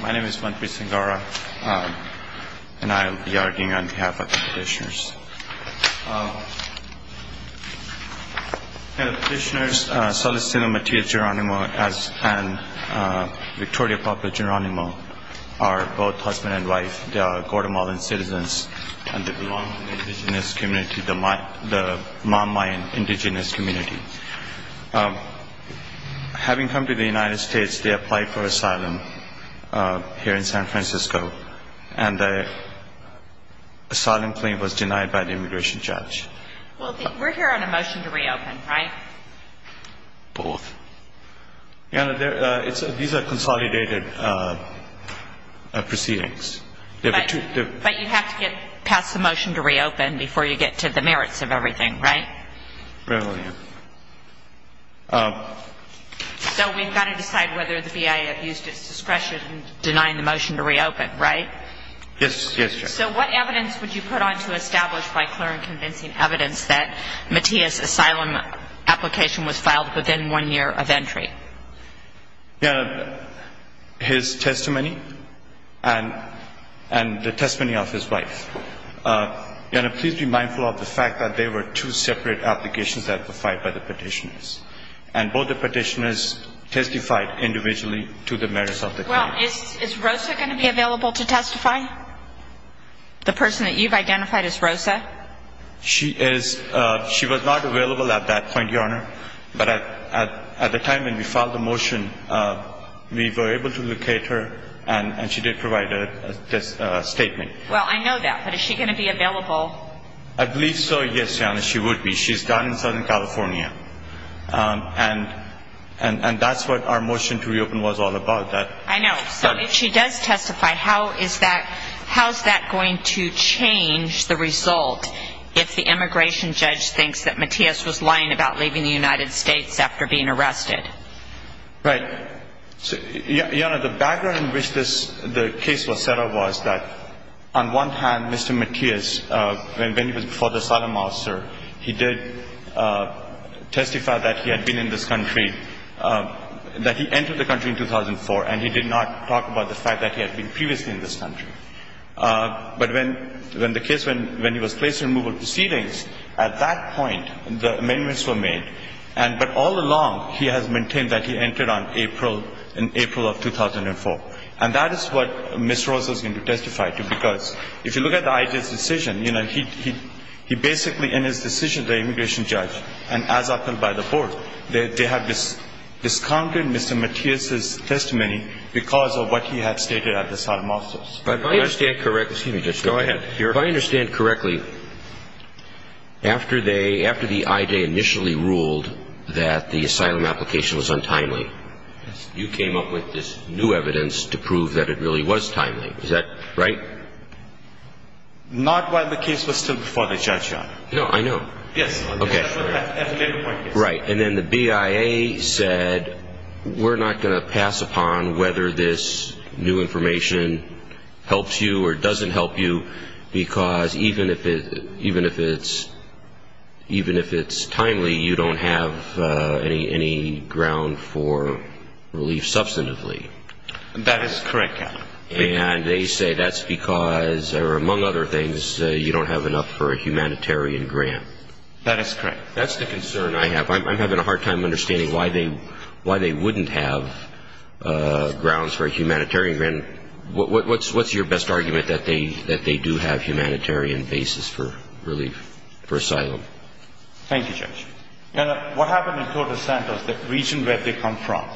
My name is Manpreet Singara and I will be arguing on behalf of the petitioners. Petitioners Celestino Matias-Jeronimo and Victoria Pablo-Jeronimo are both husband and wife. They are Guatemalan citizens and they belong to the Mamayan indigenous community. Having come to the United States they applied for asylum here in San Francisco and the asylum claim was denied by the immigration judge. We're here on a motion to reopen, right? Both. These are consolidated proceedings. But you have to get past the motion to reopen before you get to the merits of everything, right? Yes, ma'am. So we've got to decide whether the VA has used its discretion in denying the motion to reopen, right? Yes, ma'am. So what evidence would you put on to establish by clear and convincing evidence that Matias' asylum application was filed within one year of entry? His testimony and the testimony of his wife. Your Honor, please be mindful of the fact that they were two separate applications that were filed by the petitioners. And both the petitioners testified individually to the merits of the claim. Well, is Rosa going to be available to testify? The person that you've identified as Rosa? She was not available at that point, Your Honor, but at the time when we filed the motion we were able to locate her and she did provide a statement. Well, I know that, but is she going to be available? I believe so, yes, Your Honor, she would be. She's down in Southern California. And that's what our motion to reopen was all about. I know. So if she does testify, how is that going to change the result if the immigration judge thinks that Matias was lying about leaving the United States after being arrested? Right. Your Honor, the background in which the case was set up was that on one hand, Mr. Matias, when he was before the asylum officer, he did testify that he had been in this country, that he entered the country in 2004, and he did not talk about the fact that he had been previously in this country. But when the case, when he was placed in removal proceedings, at that point the amendments were made, but all along he has maintained that he entered on April of 2004. And that is what Ms. Rosa is going to testify to, because if you look at the IJ's decision, you know, he basically in his decision, the immigration judge, and as appealed by the board, they have discounted Mr. Matias' testimony because of what he had stated at the asylum officers. If I understand correctly, after the IJ initially ruled that the asylum application was untimely, you came up with this new evidence to prove that it really was timely. Is that right? Not while the case was still before the judge, Your Honor. No, I know. Yes, at a later point. Right. And then the BIA said, we're not going to pass upon whether this new information helps you or doesn't help you because even if it's timely, you don't have any ground for relief substantively. That is correct, Your Honor. And they say that's because, or among other things, you don't have enough for a humanitarian grant. That is correct. That's the concern I have. I'm having a hard time understanding why they wouldn't have grounds for a humanitarian grant. What's your best argument that they do have humanitarian basis for relief, for asylum? Thank you, Judge. Your Honor, what happened in Tordesantos, the region where they come from,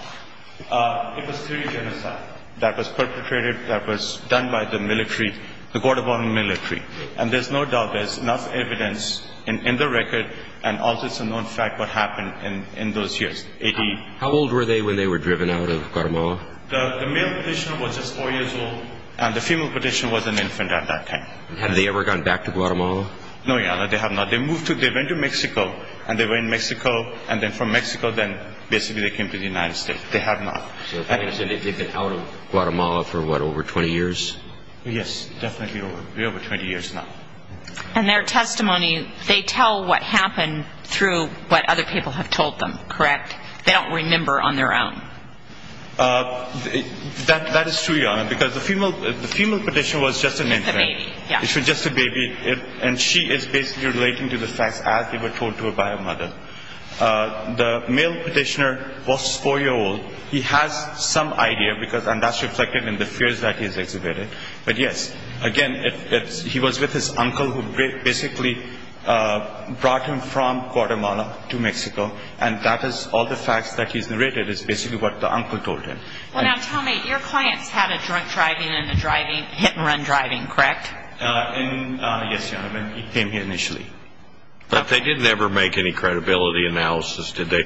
it was three genocides that was perpetrated, that was done by the military, the Guatemalan military. And there's no doubt there's enough evidence in the record and also some known fact what happened in those years, A.D. How old were they when they were driven out of Guatemala? The male petitioner was just four years old, and the female petitioner was an infant at that time. Had they ever gone back to Guatemala? No, Your Honor, they have not. They moved to, they went to Mexico, and they were in Mexico, and then from Mexico, then basically they came to the United States. They have not. So they've been out of Guatemala for what, over 20 years? Yes, definitely over 20 years now. And their testimony, they tell what happened through what other people have told them, correct? They don't remember on their own. That is true, Your Honor, because the female petitioner was just an infant. Just a baby, yes. She was just a baby, and she is basically relating to the facts as they were told to her by her mother. The male petitioner was four years old. He has some idea, and that's reflected in the fears that he's exhibited. But, yes, again, he was with his uncle who basically brought him from Guatemala to Mexico, and that is all the facts that he's narrated is basically what the uncle told him. Well, now, tell me, your clients had a drunk driving and a hit-and-run driving, correct? Yes, Your Honor, he came here initially. But they didn't ever make any credibility analysis, did they?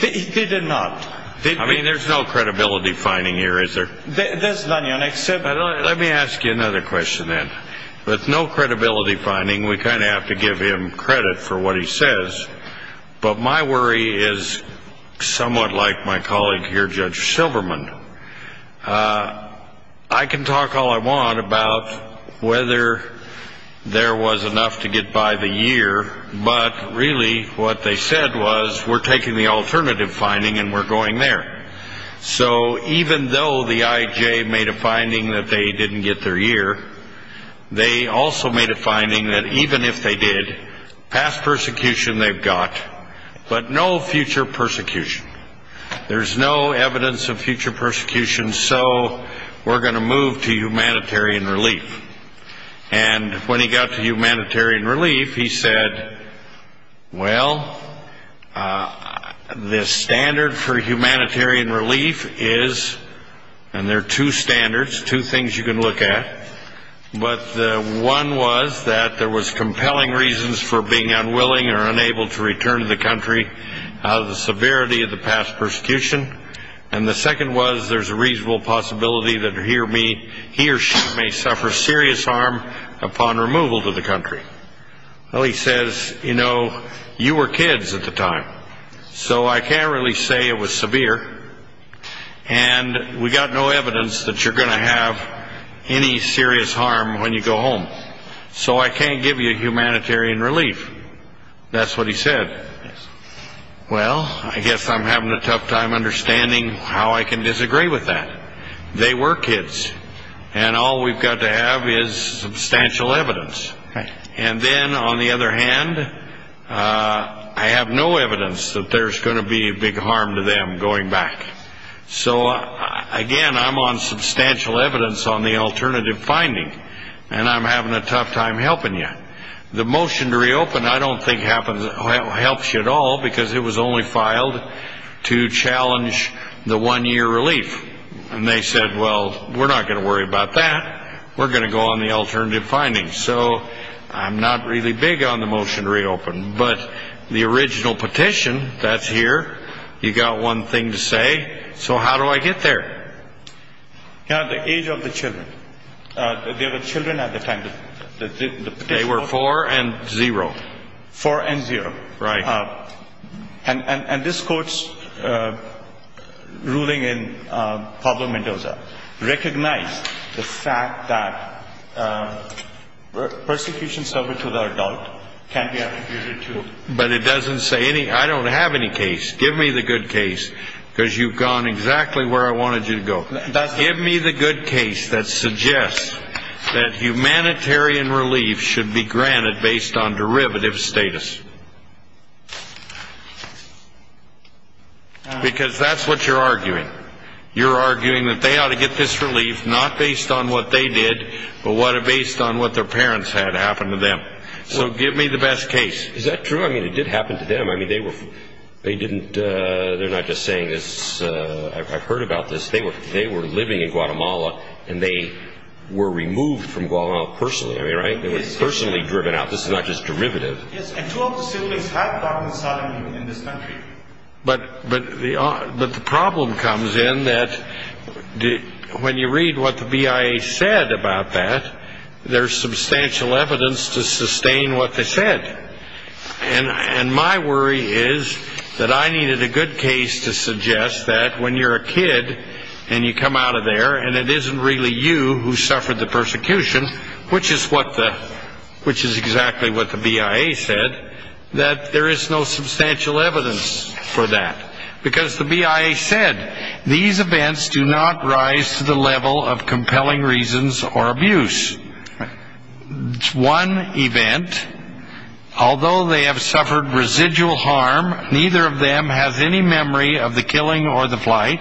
They did not. I mean, there's no credibility finding here, is there? There's none, Your Honor, except... Let me ask you another question, then. With no credibility finding, we kind of have to give him credit for what he says. But my worry is somewhat like my colleague here, Judge Silverman. I can talk all I want about whether there was enough to get by the year, but really what they said was, we're taking the alternative finding and we're going there. So even though the IJ made a finding that they didn't get their year, they also made a finding that even if they did, past persecution they've got, but no future persecution. There's no evidence of future persecution, so we're going to move to humanitarian relief. And when he got to humanitarian relief, he said, well, the standard for humanitarian relief is, and there are two standards, two things you can look at. But one was that there was compelling reasons for being unwilling or unable to return to the country out of the severity of the past persecution. And the second was there's a reasonable possibility that he or she may suffer serious harm upon removal to the country. Well, he says, you know, you were kids at the time, so I can't really say it was severe. And we've got no evidence that you're going to have any serious harm when you go home. So I can't give you humanitarian relief. That's what he said. Well, I guess I'm having a tough time understanding how I can disagree with that. They were kids, and all we've got to have is substantial evidence. And then, on the other hand, I have no evidence that there's going to be a big harm to them going back. So, again, I'm on substantial evidence on the alternative finding, and I'm having a tough time helping you. The motion to reopen I don't think helps you at all because it was only filed to challenge the one-year relief. And they said, well, we're not going to worry about that. We're going to go on the alternative finding. So I'm not really big on the motion to reopen. But the original petition that's here, you've got one thing to say. So how do I get there? You know, at the age of the children, there were children at the time. They were four and zero. Four and zero. Right. And this court's ruling in Pablo Mendoza recognized the fact that persecution suffered to the adult can be attributed to. But it doesn't say any. I don't have any case. Give me the good case because you've gone exactly where I wanted you to go. Give me the good case that suggests that humanitarian relief should be granted based on derivative status. Because that's what you're arguing. You're arguing that they ought to get this relief not based on what they did but based on what their parents had happen to them. So give me the best case. Is that true? I mean, it did happen to them. I mean, they were – they didn't – they're not just saying this. I've heard about this. They were living in Guatemala, and they were removed from Guatemala personally. I mean, right? They were personally driven out. This is not just derivative. Yes, and two of the civilians have gotten asylum in this country. But the problem comes in that when you read what the BIA said about that, there's substantial evidence to sustain what they said. And my worry is that I needed a good case to suggest that when you're a kid and you come out of there and it isn't really you who suffered the persecution, which is what the – which is exactly what the BIA said, that there is no substantial evidence for that. Because the BIA said these events do not rise to the level of compelling reasons or abuse. It's one event. Although they have suffered residual harm, neither of them has any memory of the killing or the flight.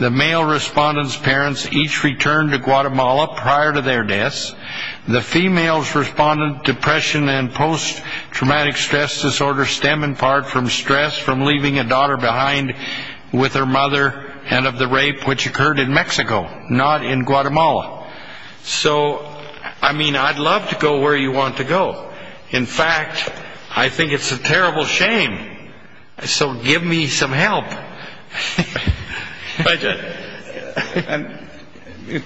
The male respondent's parents each returned to Guatemala prior to their deaths. The female's respondent's depression and post-traumatic stress disorder stem in part from stress from leaving a daughter behind with her mother and of the rape which occurred in Mexico, not in Guatemala. So, I mean, I'd love to go where you want to go. In fact, I think it's a terrible shame. So give me some help.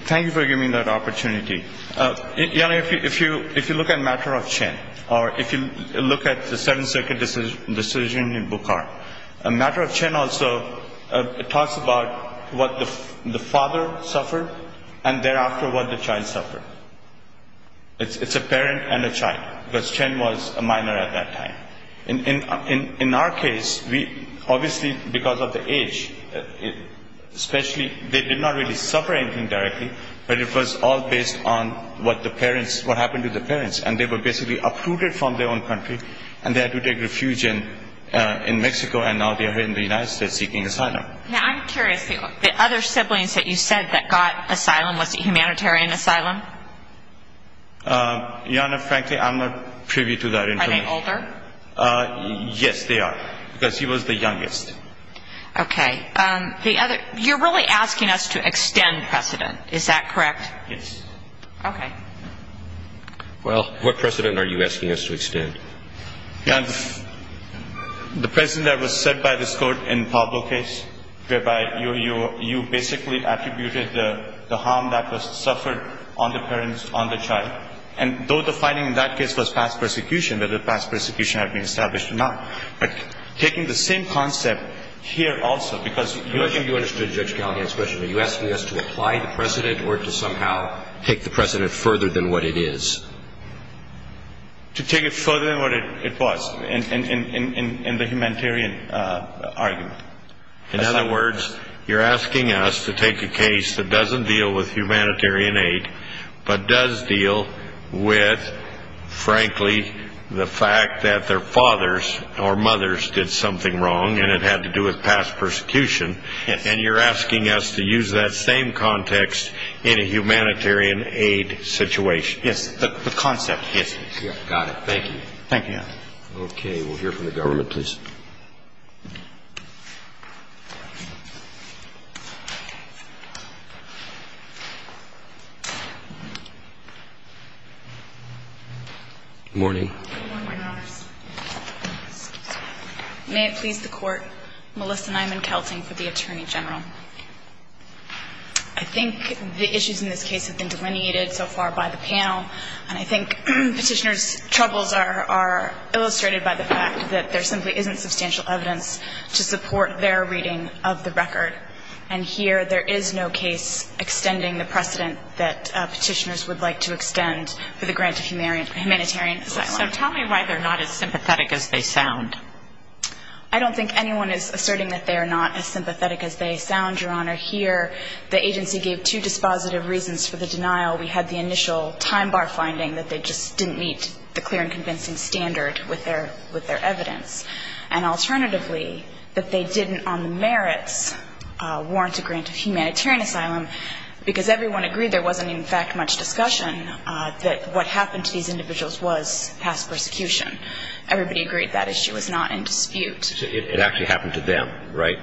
Thank you for giving me that opportunity. If you look at the matter of Chen, or if you look at the Second Circuit decision in Bukhar, a matter of Chen also talks about what the father suffered and thereafter what the child suffered. It's a parent and a child, because Chen was a minor at that time. In our case, obviously because of the age, especially they did not really suffer anything directly, but it was all based on what the parents – what happened to the parents. And they were basically uprooted from their own country and they had to take refuge in Mexico and now they are here in the United States seeking asylum. Now, I'm curious, the other siblings that you said that got asylum, was it humanitarian asylum? Jana, frankly, I'm not privy to that information. Are they older? Yes, they are, because he was the youngest. Okay. You're really asking us to extend precedent, is that correct? Yes. Okay. Well, what precedent are you asking us to extend? The precedent that was set by this Court in Pablo's case, whereby you basically attributed the harm that was suffered on the parents, on the child. And though the finding in that case was past persecution, whether past persecution had been established or not, but taking the same concept here also, because usually – I think you understood Judge Gallagher's question. Are you asking us to apply the precedent or to somehow take the precedent further than what it is? To take it further than what it was in the humanitarian argument. In other words, you're asking us to take a case that doesn't deal with humanitarian aid, but does deal with, frankly, the fact that their fathers or mothers did something wrong and it had to do with past persecution, and you're asking us to use that same context in a humanitarian aid situation. Yes. The concept. Yes. Got it. Thank you. Thank you. Okay. Good morning. Good morning, Your Honors. May it please the Court, Melissa Nyman-Kelting for the Attorney General. I think the issues in this case have been delineated so far by the panel, and I think Petitioner's troubles are illustrated by the fact that there simply isn't substantial evidence to support their reading of the record. And here there is no case extending the precedent that Petitioners would like to extend for the grant of humanitarian asylum. So tell me why they're not as sympathetic as they sound. I don't think anyone is asserting that they are not as sympathetic as they sound, Your Honor. Here the agency gave two dispositive reasons for the denial. We had the initial time bar finding that they just didn't meet the clear and convincing standard with their evidence. And alternatively, that they didn't on the merits warrant a grant of humanitarian asylum because everyone agreed there wasn't, in fact, much discussion that what happened to these individuals was past persecution. Everybody agreed that issue was not in dispute. It actually happened to them, right?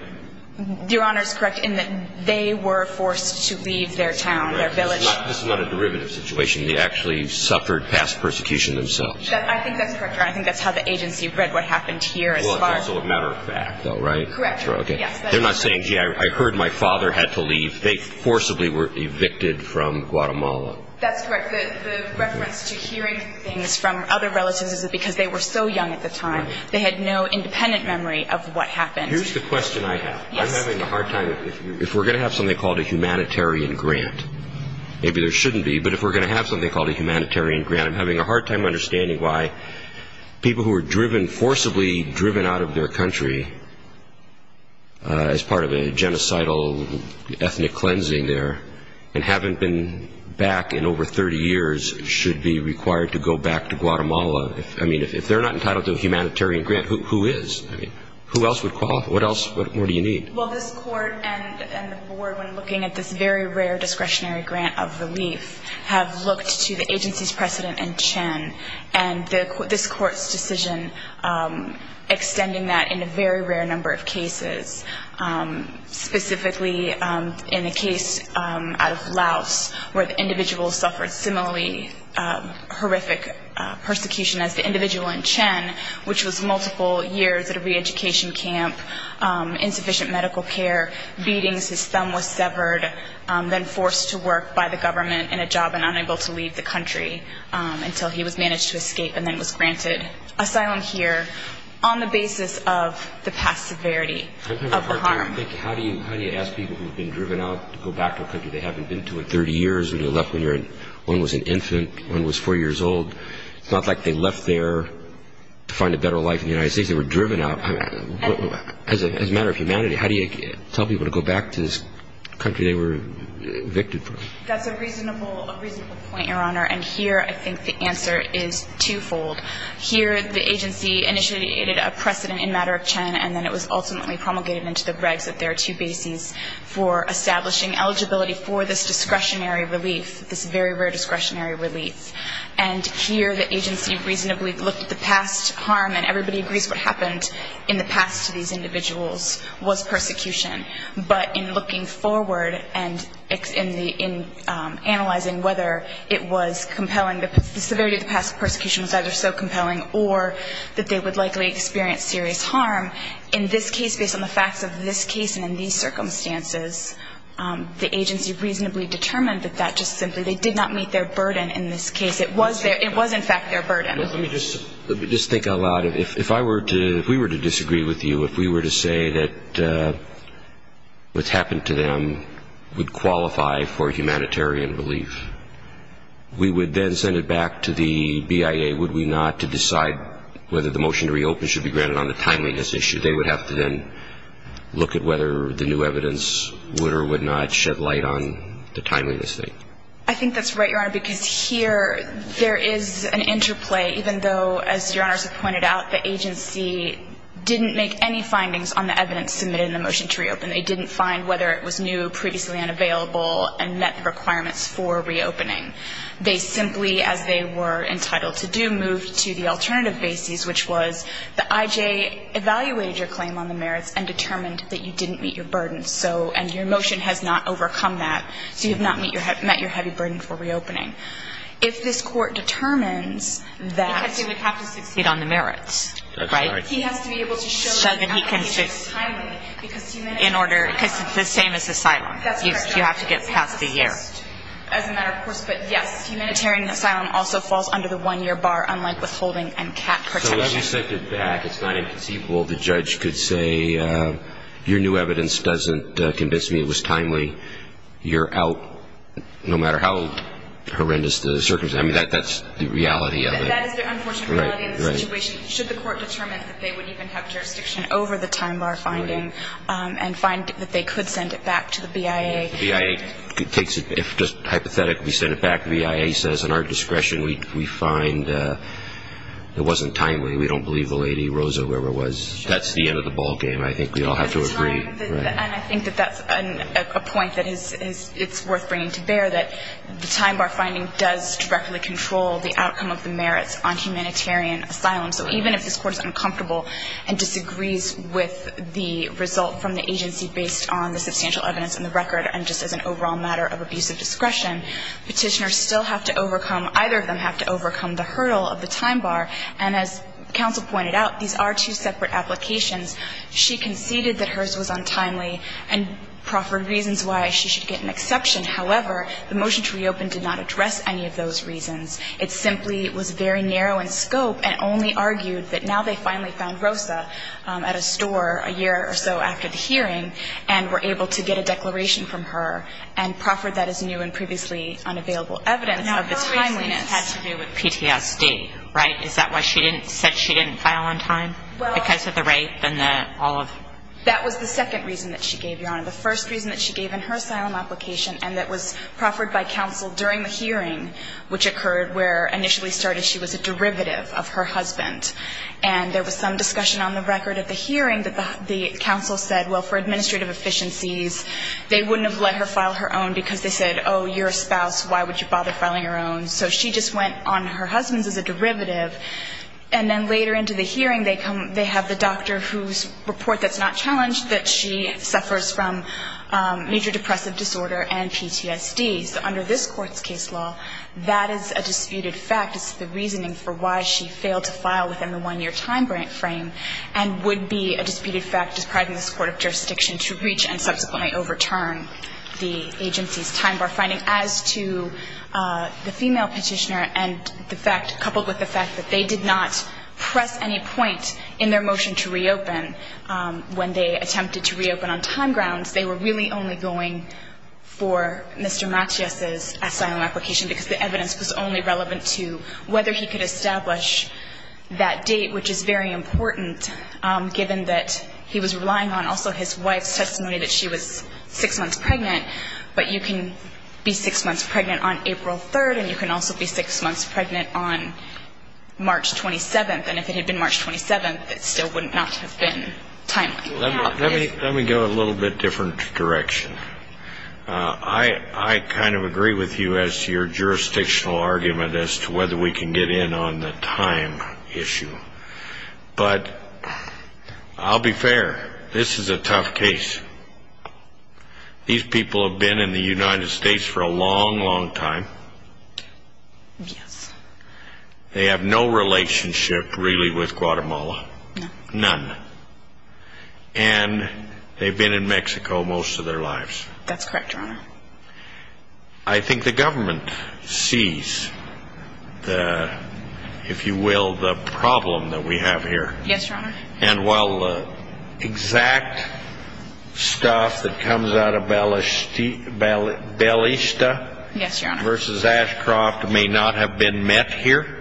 Your Honor is correct in that they were forced to leave their town, their village. This is not a derivative situation. They actually suffered past persecution themselves. I think that's correct, Your Honor. I think that's how the agency read what happened here as far as the matter of fact, though, right? Correct. They're not saying, gee, I heard my father had to leave. They forcibly were evicted from Guatemala. That's correct. The reference to hearing things from other relatives is because they were so young at the time. They had no independent memory of what happened. Here's the question I have. Yes. I'm having a hard time if we're going to have something called a humanitarian grant. Maybe there shouldn't be, but if we're going to have something called a humanitarian grant, I'm having a hard time understanding why people who were driven, forcibly driven out of their country as part of a genocidal ethnic cleansing there and haven't been back in over 30 years should be required to go back to Guatemala. I mean, if they're not entitled to a humanitarian grant, who is? I mean, who else would qualify? What else do you need? Well, this Court and the Board, when looking at this very rare discretionary grant of relief, have looked to the agency's precedent in Chen, and this Court's decision extending that in a very rare number of cases, specifically in a case out of Laos where the individual suffered similarly horrific persecution as the individual in Chen, which was multiple years at a reeducation camp, insufficient medical care, beatings, his thumb was severed, then forced to work by the government in a job and unable to leave the country until he was managed to escape and then was granted asylum here on the basis of the past severity of the harm. How do you ask people who have been driven out to go back to a country they haven't been to in 30 years when they left when one was an infant, one was four years old? It's not like they left there to find a better life in the United States. They were driven out. As a matter of humanity, how do you tell people to go back to this country they were evicted from? That's a reasonable point, Your Honor, and here I think the answer is twofold. Here the agency initiated a precedent in matter of Chen, and then it was ultimately promulgated into the regs that there are two bases for establishing eligibility for this discretionary relief, this very rare discretionary relief. And here the agency reasonably looked at the past harm, and everybody agrees what happened in the past to these individuals was persecution. But in looking forward and in analyzing whether it was compelling, the severity of the past persecution was either so compelling or that they would likely experience serious harm, in this case, based on the facts of this case and in these circumstances, the agency reasonably determined that that just simply did not meet their burden in this case. It was in fact their burden. Let me just think out loud. If we were to disagree with you, if we were to say that what's happened to them would qualify for humanitarian relief, we would then send it back to the BIA, would we not, to decide whether the motion to reopen should be granted on the timeliness issue. They would have to then look at whether the new evidence would or would not shed light on the timeliness thing. I think that's right, Your Honor, because here there is an interplay, even though, as Your Honor has pointed out, the agency didn't make any findings on the evidence submitted in the motion to reopen. They didn't find whether it was new, previously unavailable, and met the requirements for reopening. They simply, as they were entitled to do, moved to the alternative bases, which was the IJ evaluated your claim on the merits and determined that you didn't meet your burden, and your motion has not overcome that, so you have not met your heavy burden for reopening. If this Court determines that he would have to succeed on the merits, right, he has to be able to show that he can succeed in order, because it's the same as asylum. You have to get past the year. As a matter of course, but, yes, humanitarian asylum also falls under the one-year bar, unlike withholding and cap protection. So if you sent it back, it's not inconceivable the judge could say, your new evidence doesn't convince me it was timely. You're out, no matter how horrendous the circumstances. I mean, that's the reality of it. That is the unfortunate reality of the situation, should the Court determine that they would even have jurisdiction over the time bar finding and find that they could send it back to the BIA. If the BIA takes it, if just hypothetically we send it back, the BIA says, in our discretion, we find it wasn't timely. We don't believe the Lady Rosa, whoever it was. That's the end of the ball game. I think we all have to agree. And I think that that's a point that it's worth bringing to bear, that the time bar finding does directly control the outcome of the merits on humanitarian asylum. So even if this Court is uncomfortable and disagrees with the result from the agency based on the substantial evidence in the record and just as an overall matter of abusive discretion, Petitioners still have to overcome, either of them have to overcome the hurdle of the time bar. And as counsel pointed out, these are two separate applications. She conceded that hers was untimely and proffered reasons why she should get an exception. However, the motion to reopen did not address any of those reasons. It simply was very narrow in scope and only argued that now they finally found Rosa at a store a year or so after the hearing and were able to get a declaration from her and proffered that as new and previously unavailable evidence of the timeliness. Now, her reason has to do with PTSD, right? Is that why she said she didn't file on time because of the rape and all of it? That was the second reason that she gave, Your Honor. The first reason that she gave in her asylum application and that was proffered by counsel during the hearing, which occurred where initially started she was a derivative of her husband. And there was some discussion on the record of the hearing that the counsel said, well, for administrative efficiencies, they wouldn't have let her file her own because they said, oh, you're a spouse. Why would you bother filing your own? So she just went on her husband's as a derivative. And then later into the hearing, they have the doctor whose report that's not challenged that she suffers from major depressive disorder and PTSD. So under this Court's case law, that is a disputed fact. It's the reasoning for why she failed to file within the one-year time frame and would be a disputed fact, depriving this court of jurisdiction to reach and subsequently overturn the agency's time bar finding. As to the female Petitioner and the fact, coupled with the fact that they did not press any point in their motion to reopen when they attempted to reopen on time grounds, they were really only going for Mr. Matias's asylum application because the evidence was only relevant to whether he could establish that date, which is very important, given that he was relying on also his wife's testimony that she was six months pregnant. But you can be six months pregnant on April 3rd, and you can also be six months pregnant on March 27th. And if it had been March 27th, it still would not have been timely. Let me go a little bit different direction. I kind of agree with you as to your jurisdictional argument as to whether we can get in on the time issue. But I'll be fair. This is a tough case. These people have been in the United States for a long, long time. Yes. They have no relationship, really, with Guatemala. None. And they've been in Mexico most of their lives. That's correct, Your Honor. I think the government sees the, if you will, the problem that we have here. Yes, Your Honor. And while exact stuff that comes out of Belista versus Ashcroft may not have been met here,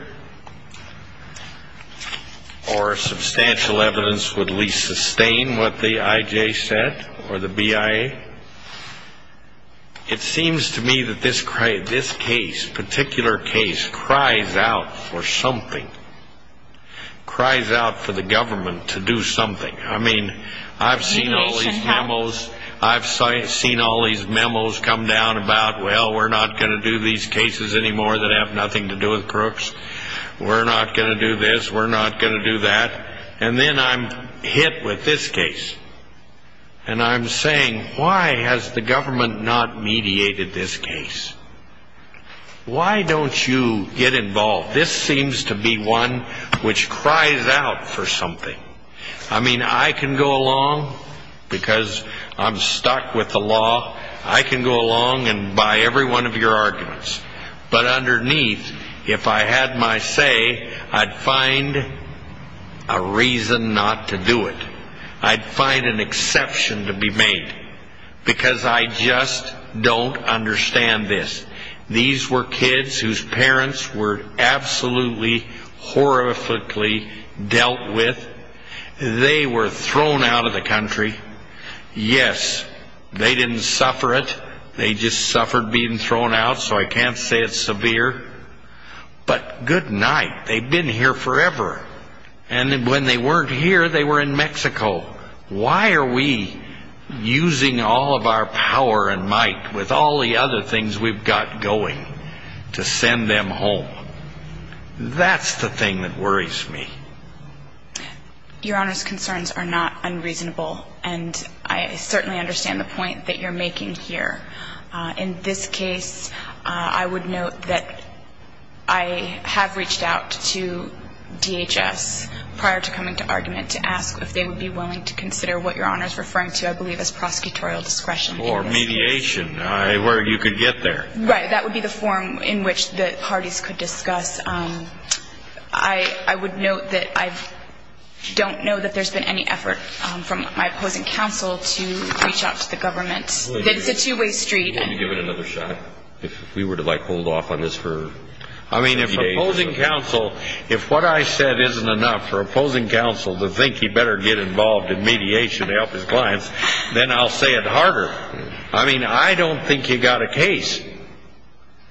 or substantial evidence would at least sustain what the IJ said or the BIA, it seems to me that this case, particular case, cries out for something, cries out for the government to do something. I mean, I've seen all these memos come down about, well, we're not going to do these cases anymore that have nothing to do with crooks. We're not going to do this. We're not going to do that. And then I'm hit with this case. And I'm saying, why has the government not mediated this case? Why don't you get involved? This seems to be one which cries out for something. I mean, I can go along because I'm stuck with the law. I can go along and buy every one of your arguments. But underneath, if I had my say, I'd find a reason not to do it. I'd find an exception to be made because I just don't understand this. These were kids whose parents were absolutely horrifically dealt with. They were thrown out of the country. Yes, they didn't suffer it. They just suffered being thrown out, so I can't say it's severe. But good night. They've been here forever. And when they weren't here, they were in Mexico. Why are we using all of our power and might with all the other things we've got going to send them home? That's the thing that worries me. Your Honor's concerns are not unreasonable. And I certainly understand the point that you're making here. In this case, I would note that I have reached out to DHS prior to coming to argument to ask if they would be willing to consider what Your Honor is referring to, I believe, as prosecutorial discretion. Or mediation, where you could get there. Right. That would be the form in which the parties could discuss. I would note that I don't know that there's been any effort from my opposing counsel to reach out to the government. It's a two-way street. Would you give it another shot if we were to, like, hold off on this for a few days? I mean, if opposing counsel, if what I said isn't enough for opposing counsel to think he better get involved in mediation to help his clients, then I'll say it harder. I mean, I don't think you've got a case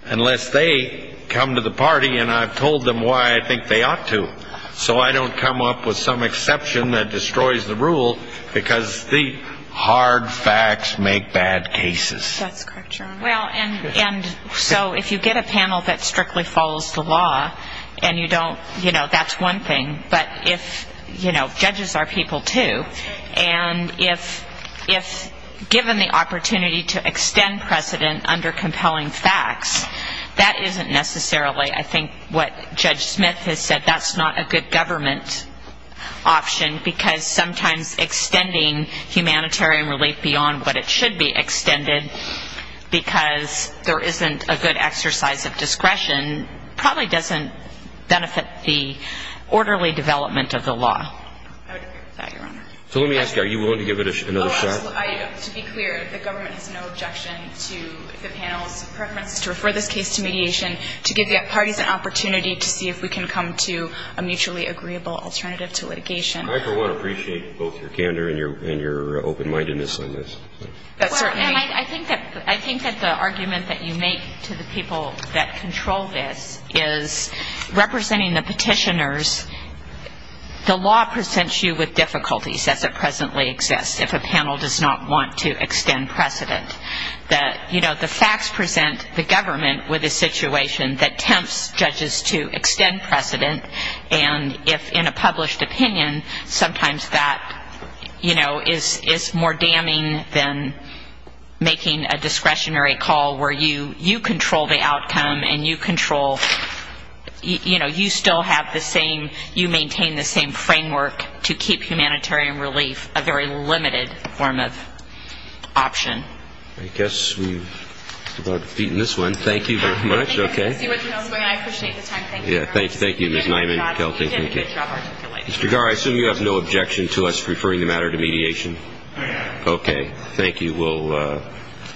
unless they come to the party and I've told them why I think they ought to. So I don't come up with some exception that destroys the rule because the hard facts make bad cases. That's correct, Your Honor. Well, and so if you get a panel that strictly follows the law and you don't, you know, that's one thing. But if, you know, judges are people too. And if given the opportunity to extend precedent under compelling facts, that isn't necessarily, I think, what Judge Smith has said, that's not a good government option because sometimes extending humanitarian relief beyond what it should be extended because there isn't a good exercise of discretion probably doesn't benefit the orderly development of the law. I would agree with that, Your Honor. So let me ask you, are you willing to give it another shot? Oh, absolutely. To be clear, the government has no objection to the panel's preference to refer this case to mediation to give the parties an opportunity to see if we can come to a mutually agreeable alternative to litigation. I, for one, appreciate both your candor and your open-mindedness on this. Well, and I think that the argument that you make to the people that control this is representing the petitioners, the law presents you with difficulties as it presently exists if a panel does not want to extend precedent. That, you know, the facts present the government with a situation that tempts judges to extend precedent. And if in a published opinion, sometimes that, you know, is more damning than making a discretionary call where you control the outcome and you control, you know, you still have the same, you maintain the same framework to keep humanitarian relief a very limited form of option. I guess we're about to beat this one. Thank you very much. I appreciate the time. Thank you very much. Thank you, Ms. Nyman-Kelty. You did a good job articulating it. Mr. Gar, I assume you have no objection to us referring the matter to mediation? Okay, thank you. We'll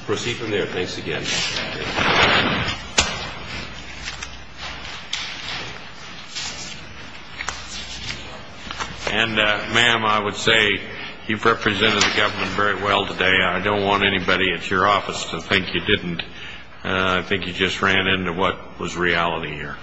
proceed from there. Thanks again. And, ma'am, I would say you've represented the government very well today. I don't want anybody at your office to think you didn't. I think you just ran into what was reality here.